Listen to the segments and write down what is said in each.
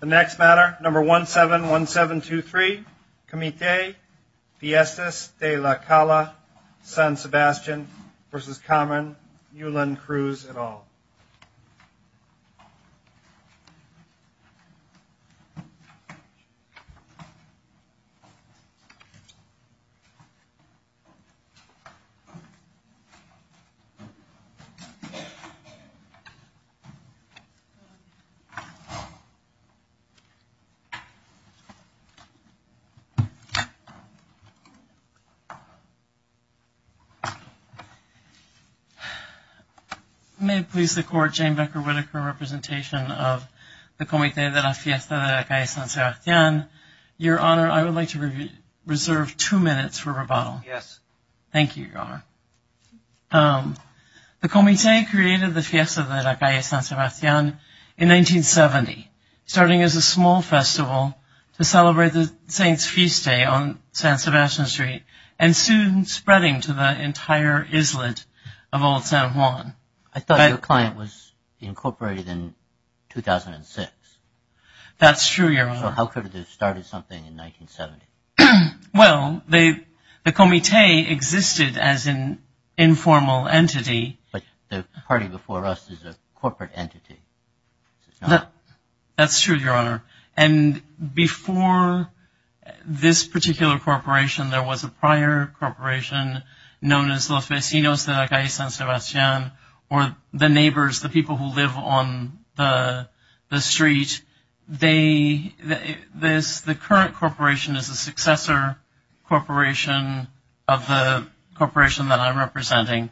The next matter, number 171723, Comite Fiestas de la Calle, San Sebastian v. Comron, Newland, Cruz, et al. May it please the Court, Jane Becker Whitaker, representation of the Comite de la Fiesta de la Calle San Sebastian. Your Honor, I would like to reserve two minutes for rebuttal. Thank you, Your Honor. The Comite created the Fiesta de la Calle San Sebastian in 1970, starting as a small festival to celebrate the Saints' Feast Day on San Sebastian Street, and soon spreading to the entire islet of Old San Juan. I thought your client was incorporated in 2006. That's true, Your Honor. So how could it have started something in 1970? Well, the Comite existed as an informal entity. But the party before us is a corporate entity. That's true, Your Honor. And before this particular corporation, there was a prior corporation known as Los Vecinos de la Calle San Sebastian, or the neighbors, the people who live on the street. The current corporation is a successor corporation of the corporation that I'm representing.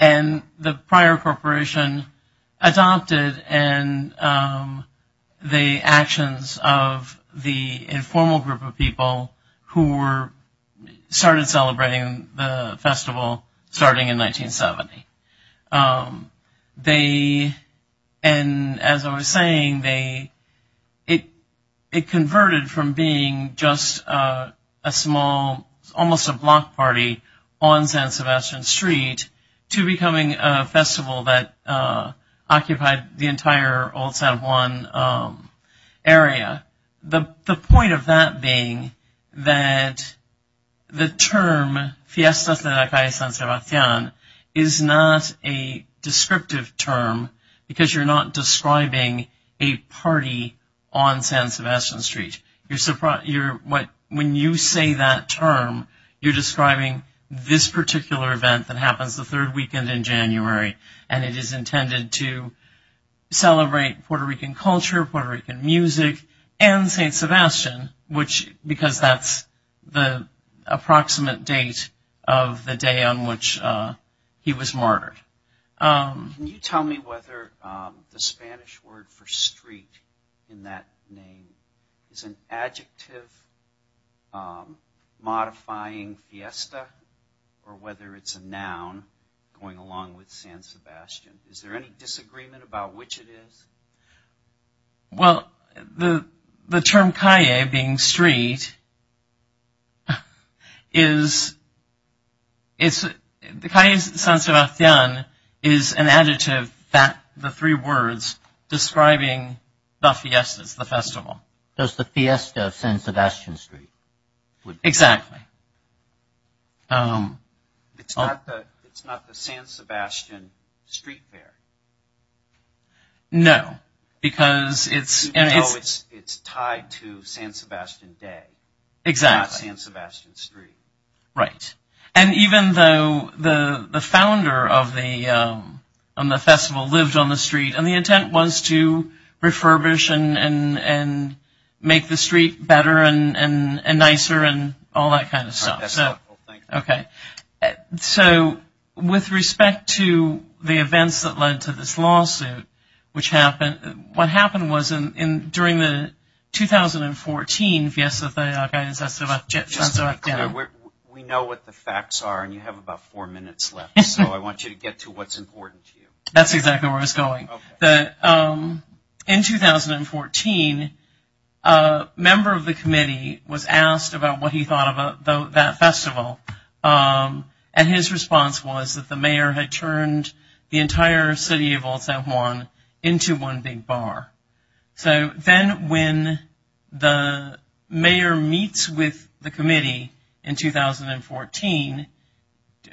And the prior corporation adopted the actions of the informal group of people who started celebrating the festival starting in 1970. And as I was saying, it converted from being just a small, almost a block party on San Sebastian Street to becoming a festival that occupied the entire Old San Juan area. The point of that being that the term Fiestas de la Calle San Sebastian is not a descriptive term because you're not describing a party on San Sebastian Street. When you say that term, you're describing this particular event that happens the third weekend in January, and it is intended to celebrate Puerto Rican culture, Puerto Rican music, and San Sebastian, because that's the approximate date of the day on which he was martyred. Can you tell me whether the Spanish word for street in that name is an adjective modifying fiesta, or whether it's a noun going along with San Sebastian? Is there any disagreement about which it is? Well, the term calle, being street, is, calle San Sebastian is an adjective, the three words describing the fiestas, the festival. So it's the fiesta of San Sebastian Street. Exactly. It's not the San Sebastian Street Fair. No, because it's... No, it's tied to San Sebastian Day. Exactly. Not San Sebastian Street. Right. And even though the founder of the festival lived on the street, and the intent was to refurbish and make the street better and nicer and all that kind of stuff. That's right. Okay. So, with respect to the events that led to this lawsuit, which happened, what happened was during the 2014 Fiesta de la Catedral de San Sebastian. Just to be clear, we know what the facts are, and you have about four minutes left, so I want you to get to what's important to you. That's exactly where I was going. Okay. In 2014, a member of the committee was asked about what he thought about that festival, and his response was that the mayor had turned the entire city of El San Juan into one big bar. So then when the mayor meets with the committee in 2014,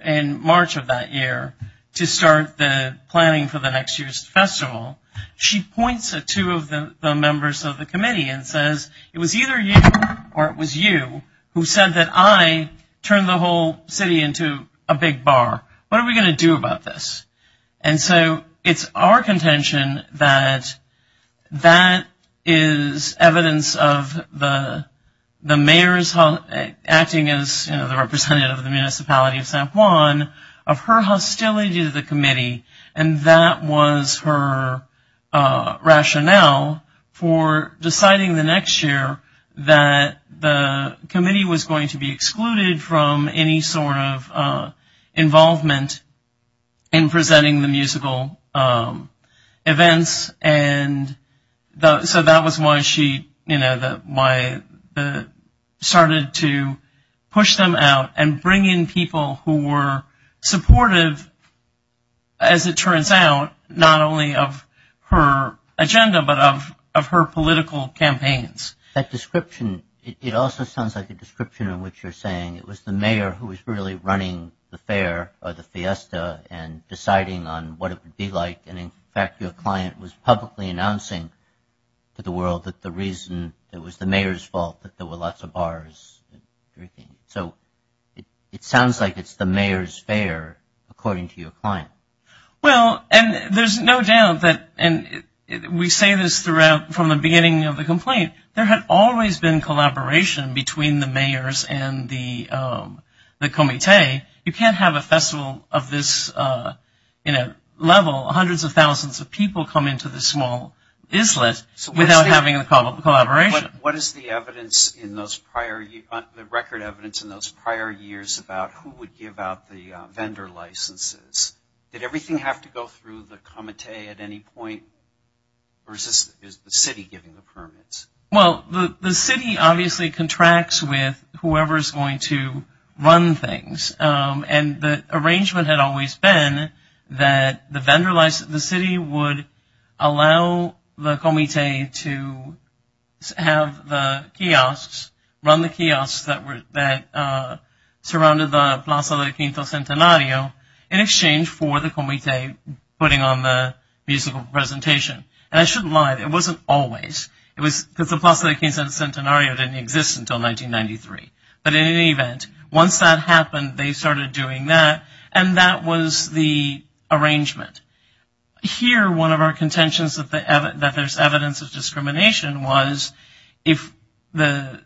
in March of that year, to start the planning for the next year's festival, she points at two of the members of the committee and says, it was either you or it was you who said that I turned the whole city into a big bar. What are we going to do about this? And so it's our contention that that is evidence of the mayor's acting as, you know, the representative of the municipality of San Juan, of her hostility to the committee, and that was her rationale for deciding the next year that the committee was going to be excluded from any sort of involvement in presenting the musical events. So that was why she started to push them out and bring in people who were supportive, as it turns out, not only of her agenda but of her political campaigns. That description, it also sounds like a description of what you're saying. It was the mayor who was really running the fair or the fiesta and deciding on what it would be like, and in fact your client was publicly announcing to the world that the reason it was the mayor's fault that there were lots of bars and everything. So it sounds like it's the mayor's fair, according to your client. Well, and there's no doubt that, and we say this from the beginning of the complaint, there had always been collaboration between the mayors and the committee. You can't have a festival of this level, hundreds of thousands of people come into this small islet without having a collaboration. What is the record evidence in those prior years about who would give out the vendor licenses? Did everything have to go through the committee at any point, or is the city giving the permits? Well, the city obviously contracts with whoever is going to run things, and the arrangement had always been that the city would allow the committee to have the kiosks, run the kiosks that surrounded the Plaza del Quinto Centenario, in exchange for the committee putting on the musical presentation. And I shouldn't lie, it wasn't always. It was because the Plaza del Quinto Centenario didn't exist until 1993. But in any event, once that happened, they started doing that, and that was the arrangement. Here, one of our contentions that there's evidence of discrimination was, if the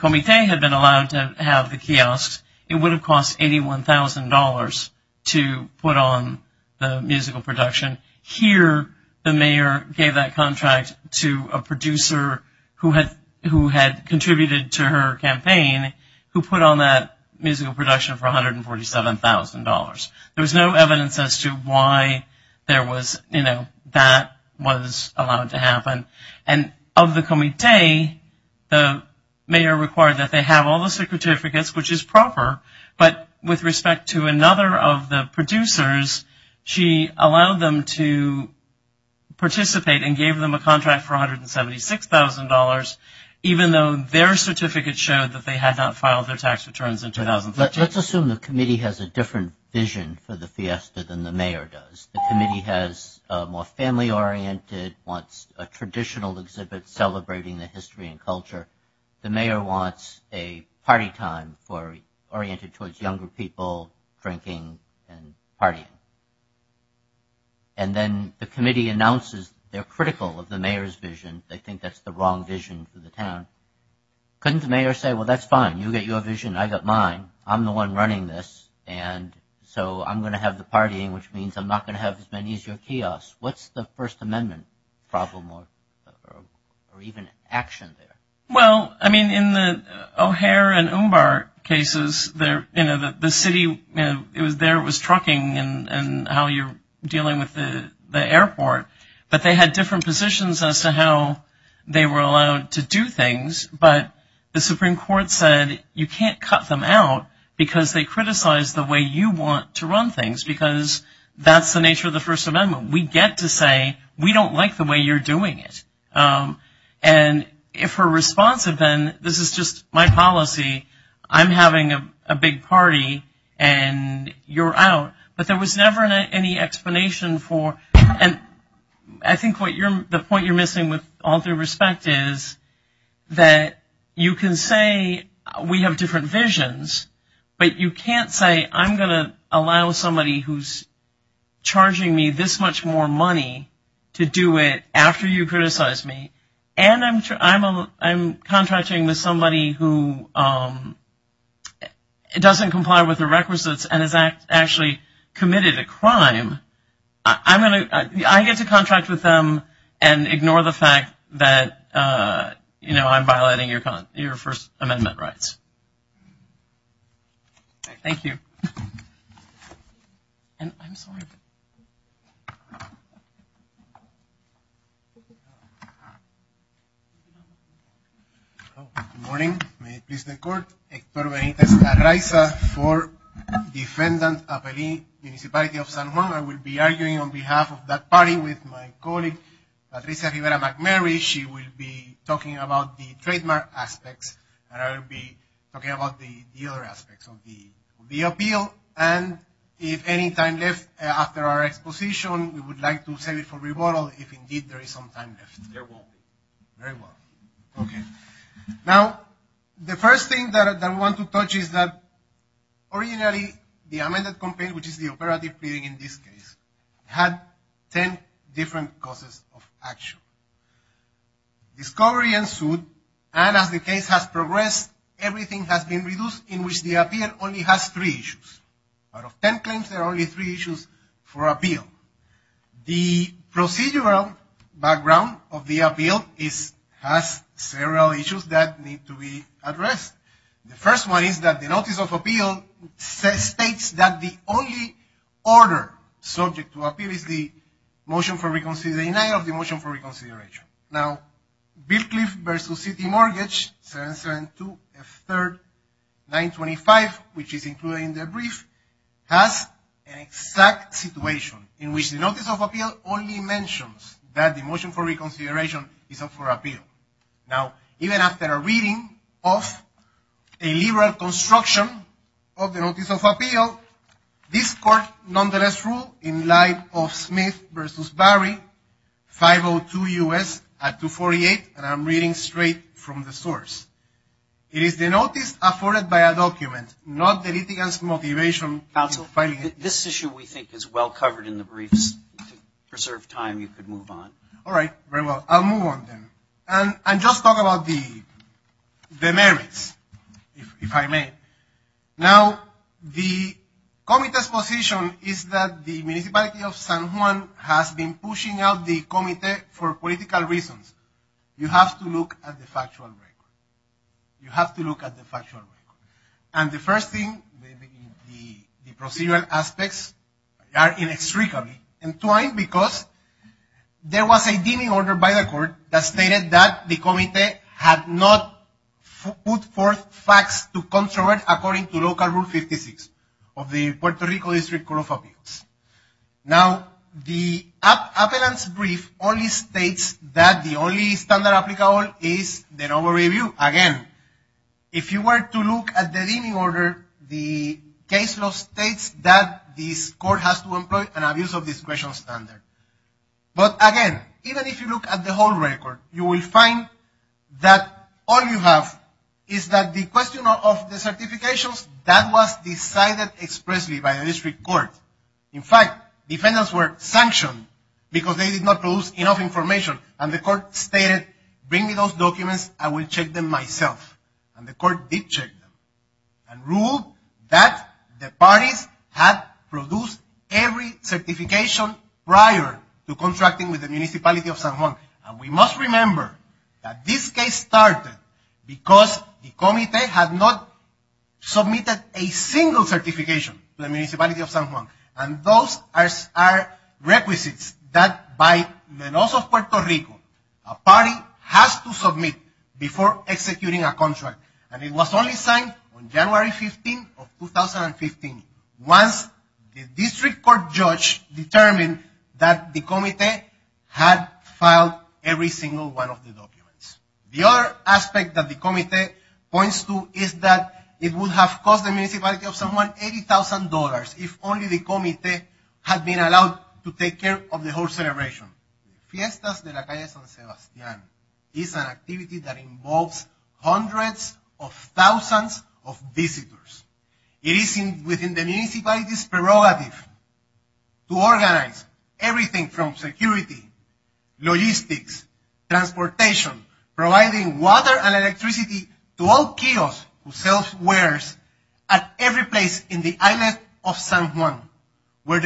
committee had been allowed to have the kiosks, it would have cost $81,000 to put on the musical production. Here, the mayor gave that contract to a producer who had contributed to her campaign, who put on that musical production for $147,000. There was no evidence as to why that was allowed to happen. And of the committee, the mayor required that they have all the certificates, which is proper, but with respect to another of the producers, she allowed them to participate and gave them a contract for $176,000, even though their certificate showed that they had not filed their tax returns in 2013. Let's assume the committee has a different vision for the fiesta than the mayor does. The committee has a more family-oriented, wants a traditional exhibit celebrating the history and culture. The mayor wants a party time oriented towards younger people, drinking, and partying. And then the committee announces they're critical of the mayor's vision, they think that's the wrong vision for the town. Couldn't the mayor say, well, that's fine, you get your vision, I got mine, I'm the one running this, and so I'm going to have the partying, which means I'm not going to have as many as your kiosks. What's the First Amendment problem or even action there? Well, I mean, in the O'Hare and Umbar cases, you know, the city, you know, it was there, it was trucking and how you're dealing with the airport, but they had different positions as to how they were allowed to do things, but the Supreme Court said you can't cut them out because they criticized the way you want to run things because that's the nature of the First Amendment. We get to say we don't like the way you're doing it. And if we're responsive, then this is just my policy, I'm having a big party, and you're out. But there was never any explanation for, and I think the point you're missing with all due respect is that you can say we have different visions, but you can't say I'm going to allow somebody who's charging me this much more money to do it after you criticize me, and I'm contracting with somebody who doesn't comply with the requisites and has actually committed a crime. I get to contract with them and ignore the fact that, you know, I'm violating your First Amendment rights. Thank you. And I'm sorry. Thank you. Good morning. May it please the Court. Hector Benitez-Araiza for Defendant Appellee, Municipality of San Juan. I will be arguing on behalf of that party with my colleague, Patricia Rivera-McMurray. She will be talking about the trademark aspects, and I will be talking about the other aspects of the appeal. And if any time left after our exposition, we would like to save it for rebuttal if indeed there is some time left. There won't be. Very well. Okay. Now, the first thing that I want to touch is that originally the amended complaint, which is the operative pleading in this case, had ten different causes of action. Discovery ensued, and as the case has progressed, everything has been reduced, in which the appeal only has three issues. Out of ten claims, there are only three issues for appeal. The procedural background of the appeal has several issues that need to be addressed. The first one is that the notice of appeal states that the only order subject to appeal is the motion for reconsideration. Now, Beercliff v. City Mortgage, 772F3, 925, which is included in the brief, has an exact situation in which the notice of appeal only mentions that the motion for reconsideration is up for appeal. Now, even after a reading of a liberal construction of the notice of appeal, this court nonetheless ruled in light of Smith v. Barry, 502 U.S., at 248, and I'm reading straight from the source. It is the notice afforded by a document, not the litigant's motivation in filing it. Counsel, this issue we think is well covered in the briefs. To preserve time, you could move on. All right. Very well. I'll move on then. And just talk about the merits, if I may. Now, the committee's position is that the municipality of San Juan has been pushing out the committee for political reasons. You have to look at the factual record. You have to look at the factual record. And the first thing, the procedural aspects are inextricably entwined because there was a deeming order by the court that stated that the committee had not put forth facts to come forward according to Local Rule 56 of the Puerto Rico District Court of Appeals. Now, the appellant's brief only states that the only standard applicable is the normal review. Again, if you were to look at the deeming order, the case law states that this court has to employ an abuse of discretion standard. But, again, even if you look at the whole record, you will find that all you have is that the question of the certifications, that was decided expressly by the district court. In fact, defendants were sanctioned because they did not produce enough information. And the court stated, bring me those documents. I will check them myself. And the court did check them. And ruled that the parties had produced every certification prior to contracting with the municipality of San Juan. And we must remember that this case started because the committee had not submitted a single certification to the municipality of San Juan. And those are requisites that, by the laws of Puerto Rico, a party has to submit before executing a contract. And it was only signed on January 15 of 2015. Once the district court judge determined that the committee had filed every single one of the documents. The other aspect that the committee points to is that it would have cost the municipality of San Juan $80,000 if only the committee had been allowed to take care of the whole celebration. Fiestas de la Calle San Sebastián is an activity that involves hundreds of thousands of visitors. It is within the municipality's prerogative to organize everything from security, logistics, transportation, providing water and electricity to all kiosks who sell wares at every place in the island of San Juan where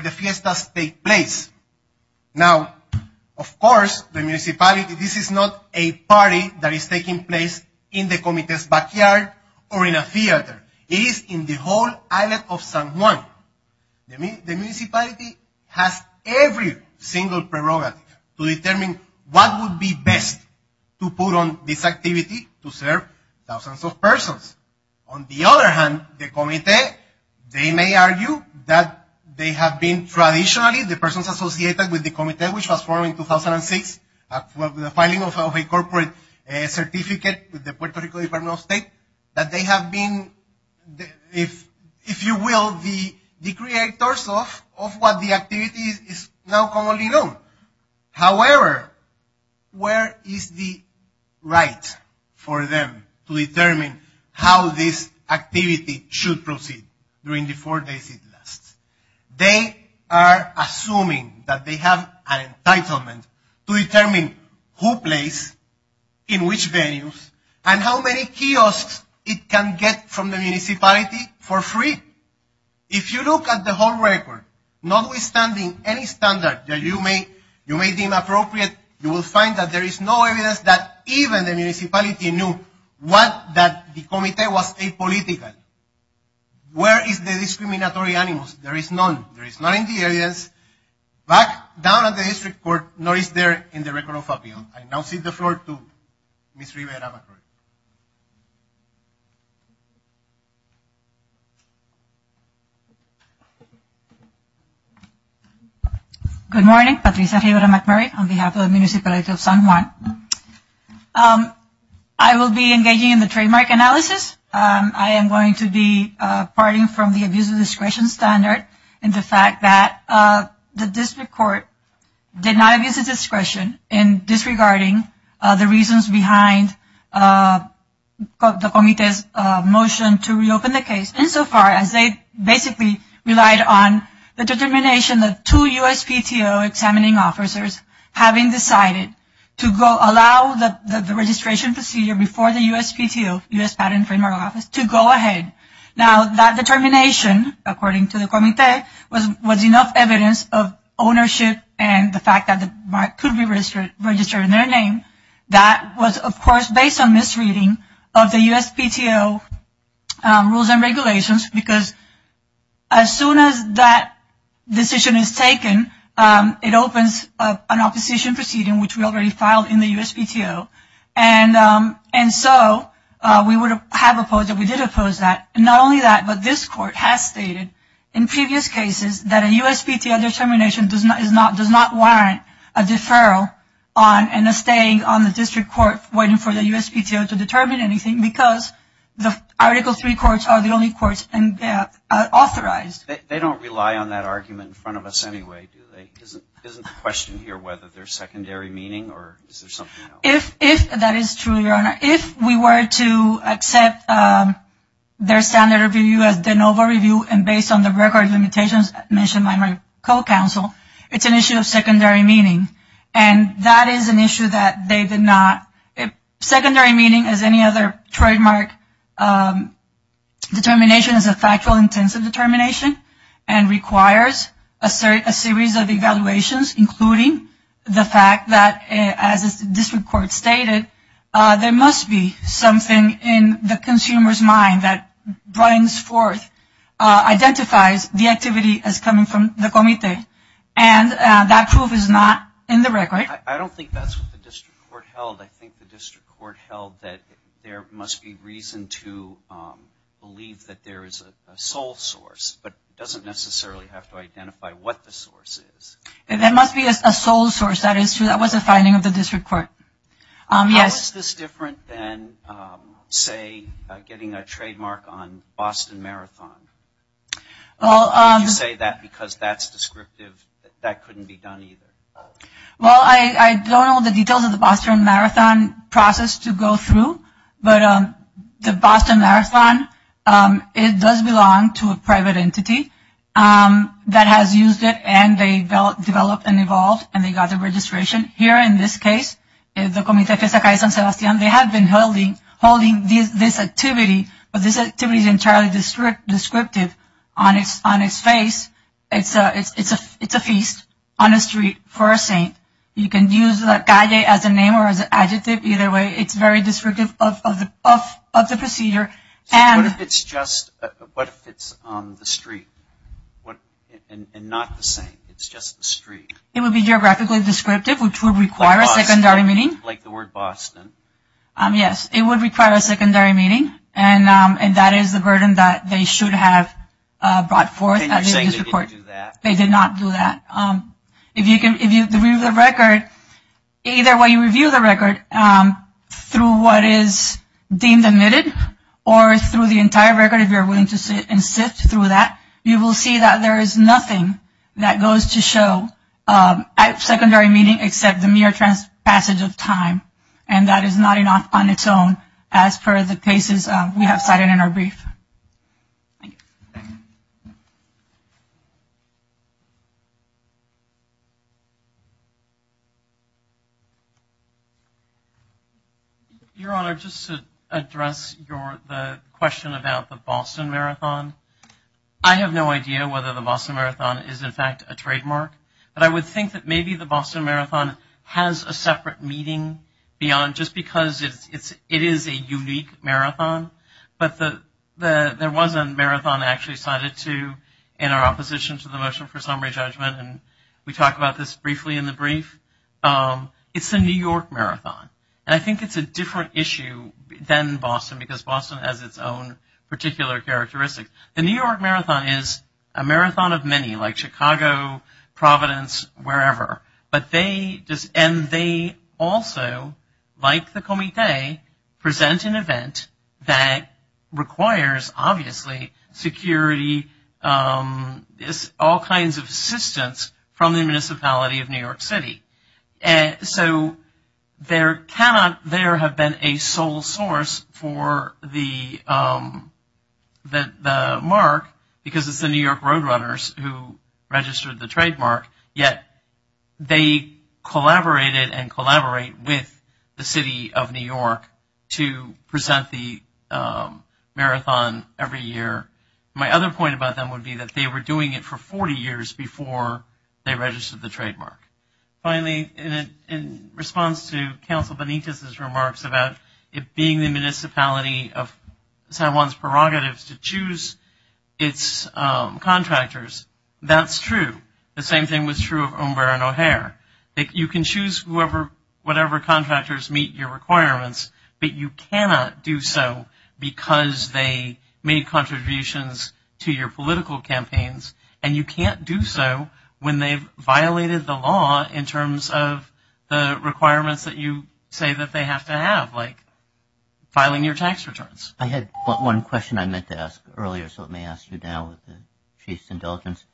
the fiestas take place. Now, of course, the municipality, this is not a party that is taking place in the committee's backyard or in a theater. It is in the whole island of San Juan. The municipality has every single prerogative to determine what would be best to put on this activity to serve thousands of persons. On the other hand, the committee, they may argue that they have been traditionally, the persons associated with the committee which was formed in 2006 after the filing of a corporate certificate with the Puerto Rico Department of State, that they have been, if you will, the creators of what the activity is now commonly known. However, where is the right for them to determine how this activity should proceed during the four days it lasts? They are assuming that they have an entitlement to determine who plays in which venues and how many kiosks it can get from the municipality for free. If you look at the whole record, notwithstanding any standard that you may deem appropriate, you will find that there is no evidence that even the municipality knew that the committee was apolitical. Where is the discriminatory animus? There is none. There is none in the areas, back down at the district court, nor is there in the record of appeal. I now cede the floor to Ms. Rivera-McCord. Good morning. Patricia Rivera-McCord on behalf of the Municipality of San Juan. I will be engaging in the trademark analysis. I am going to be parting from the abuse of discretion standard and the fact that the district court did not abuse of discretion in disregarding the reasons behind the committee's motion to reopen the case, insofar as they basically relied on the determination of two USPTO examining officers having decided to allow the registration procedure before the USPTO, US Patent and Framework Office, to go ahead. Now, that determination, according to the committee, was enough evidence of ownership and the fact that the mark could be registered in their name. That was, of course, based on misreading of the USPTO rules and regulations, because as soon as that decision is taken, it opens an opposition proceeding, which we already filed in the USPTO. And so, we would have opposed it. We did oppose that. Not only that, but this court has stated in previous cases that a USPTO determination does not warrant a deferral and a staying on the district court waiting for the USPTO to determine anything, because the Article III courts are the only courts authorized. They don't rely on that argument in front of us anyway, do they? Isn't the question here whether there's secondary meaning or is there something else? If that is true, Your Honor, if we were to accept their standard review as de novo review and based on the record limitations mentioned by my co-counsel, it's an issue of secondary meaning. And that is an issue that they did not, secondary meaning as any other trademark determination is a factual intensive determination and requires a series of evaluations, including the fact that, as the district court stated, there must be something in the consumer's mind that brings forth, identifies the activity as coming from the comité, and that proof is not in the record. I don't think that's what the district court held. I think the district court held that there must be reason to believe that there is a sole source, but doesn't necessarily have to identify what the source is. There must be a sole source. That is true. That was the finding of the district court. How is this different than, say, getting a trademark on Boston Marathon? You say that because that's descriptive. That couldn't be done either. Well, I don't know the details of the Boston Marathon process to go through, but the Boston Marathon, it does belong to a private entity that has used it, and they developed and evolved, and they got the registration. Here in this case, the Comité Fiesta Calle San Sebastián, they have been holding this activity, but this activity is entirely descriptive on its face. It's a feast on a street for a saint. You can use Calle as a name or as an adjective. Either way, it's very descriptive of the procedure. What if it's on the street and not the saint? It's just the street. It would be geographically descriptive, which would require a secondary meeting. Like the word Boston. Yes, it would require a secondary meeting, and that is the burden that they should have brought forth at the district court. And you're saying they didn't do that? They did not do that. If you review the record, either way you review the record, through what is deemed admitted, or through the entire record if you're willing to sit and sift through that, you will see that there is nothing that goes to show at secondary meeting except the mere passage of time, and that is not enough on its own, as per the cases we have cited in our brief. Thank you. Your Honor, just to address the question about the Boston Marathon, I have no idea whether the Boston Marathon is, in fact, a trademark, but I would think that maybe the Boston Marathon has a separate meaning beyond just because it is a unique marathon, but there was a marathon actually cited in our opposition to the motion for summary judgment, and we talk about this briefly in the brief. It's the New York Marathon, and I think it's a different issue than Boston because Boston has its own particular characteristics. The New York Marathon is a marathon of many, like Chicago, Providence, wherever, and they also, like the Comité, present an event that requires, obviously, security, all kinds of assistance from the municipality of New York City. So there cannot there have been a sole source for the mark because it's the New York Roadrunners who registered the trademark, yet they collaborated and collaborate with the city of New York to present the marathon every year. My other point about them would be that they were doing it for 40 years before they registered the trademark. Finally, in response to Counsel Benitez's remarks about it being the municipality of San Juan's prerogatives to choose its contractors, that's true. The same thing was true of Umber and O'Hare. You can choose whatever contractors meet your requirements, but you cannot do so because they made contributions to your political campaigns, and you can't do so when they've violated the law in terms of the requirements that you say that they have to have, like filing your tax returns. I had one question I meant to ask earlier, so let me ask you now with the chief's indulgence.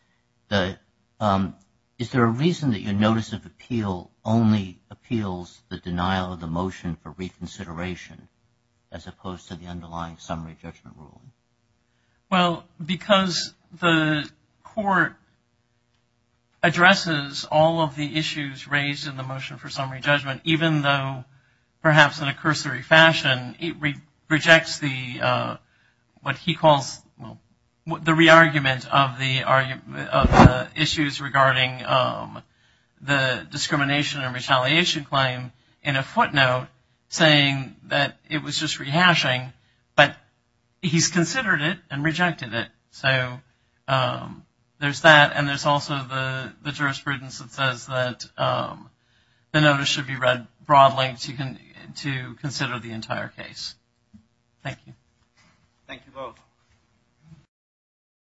Is there a reason that your notice of appeal only appeals the denial of the motion for reconsideration as opposed to the underlying summary judgment rule? Well, because the court addresses all of the issues raised in the motion for summary judgment, even though perhaps in a cursory fashion it rejects what he calls the re-argument of the issues regarding the discrimination and retaliation claim in a footnote saying that it was just rehashing, but he's considered it and rejected it. So there's that, and there's also the jurisprudence that says that the notice should be read broadly to consider the entire case. Thank you. Thank you both.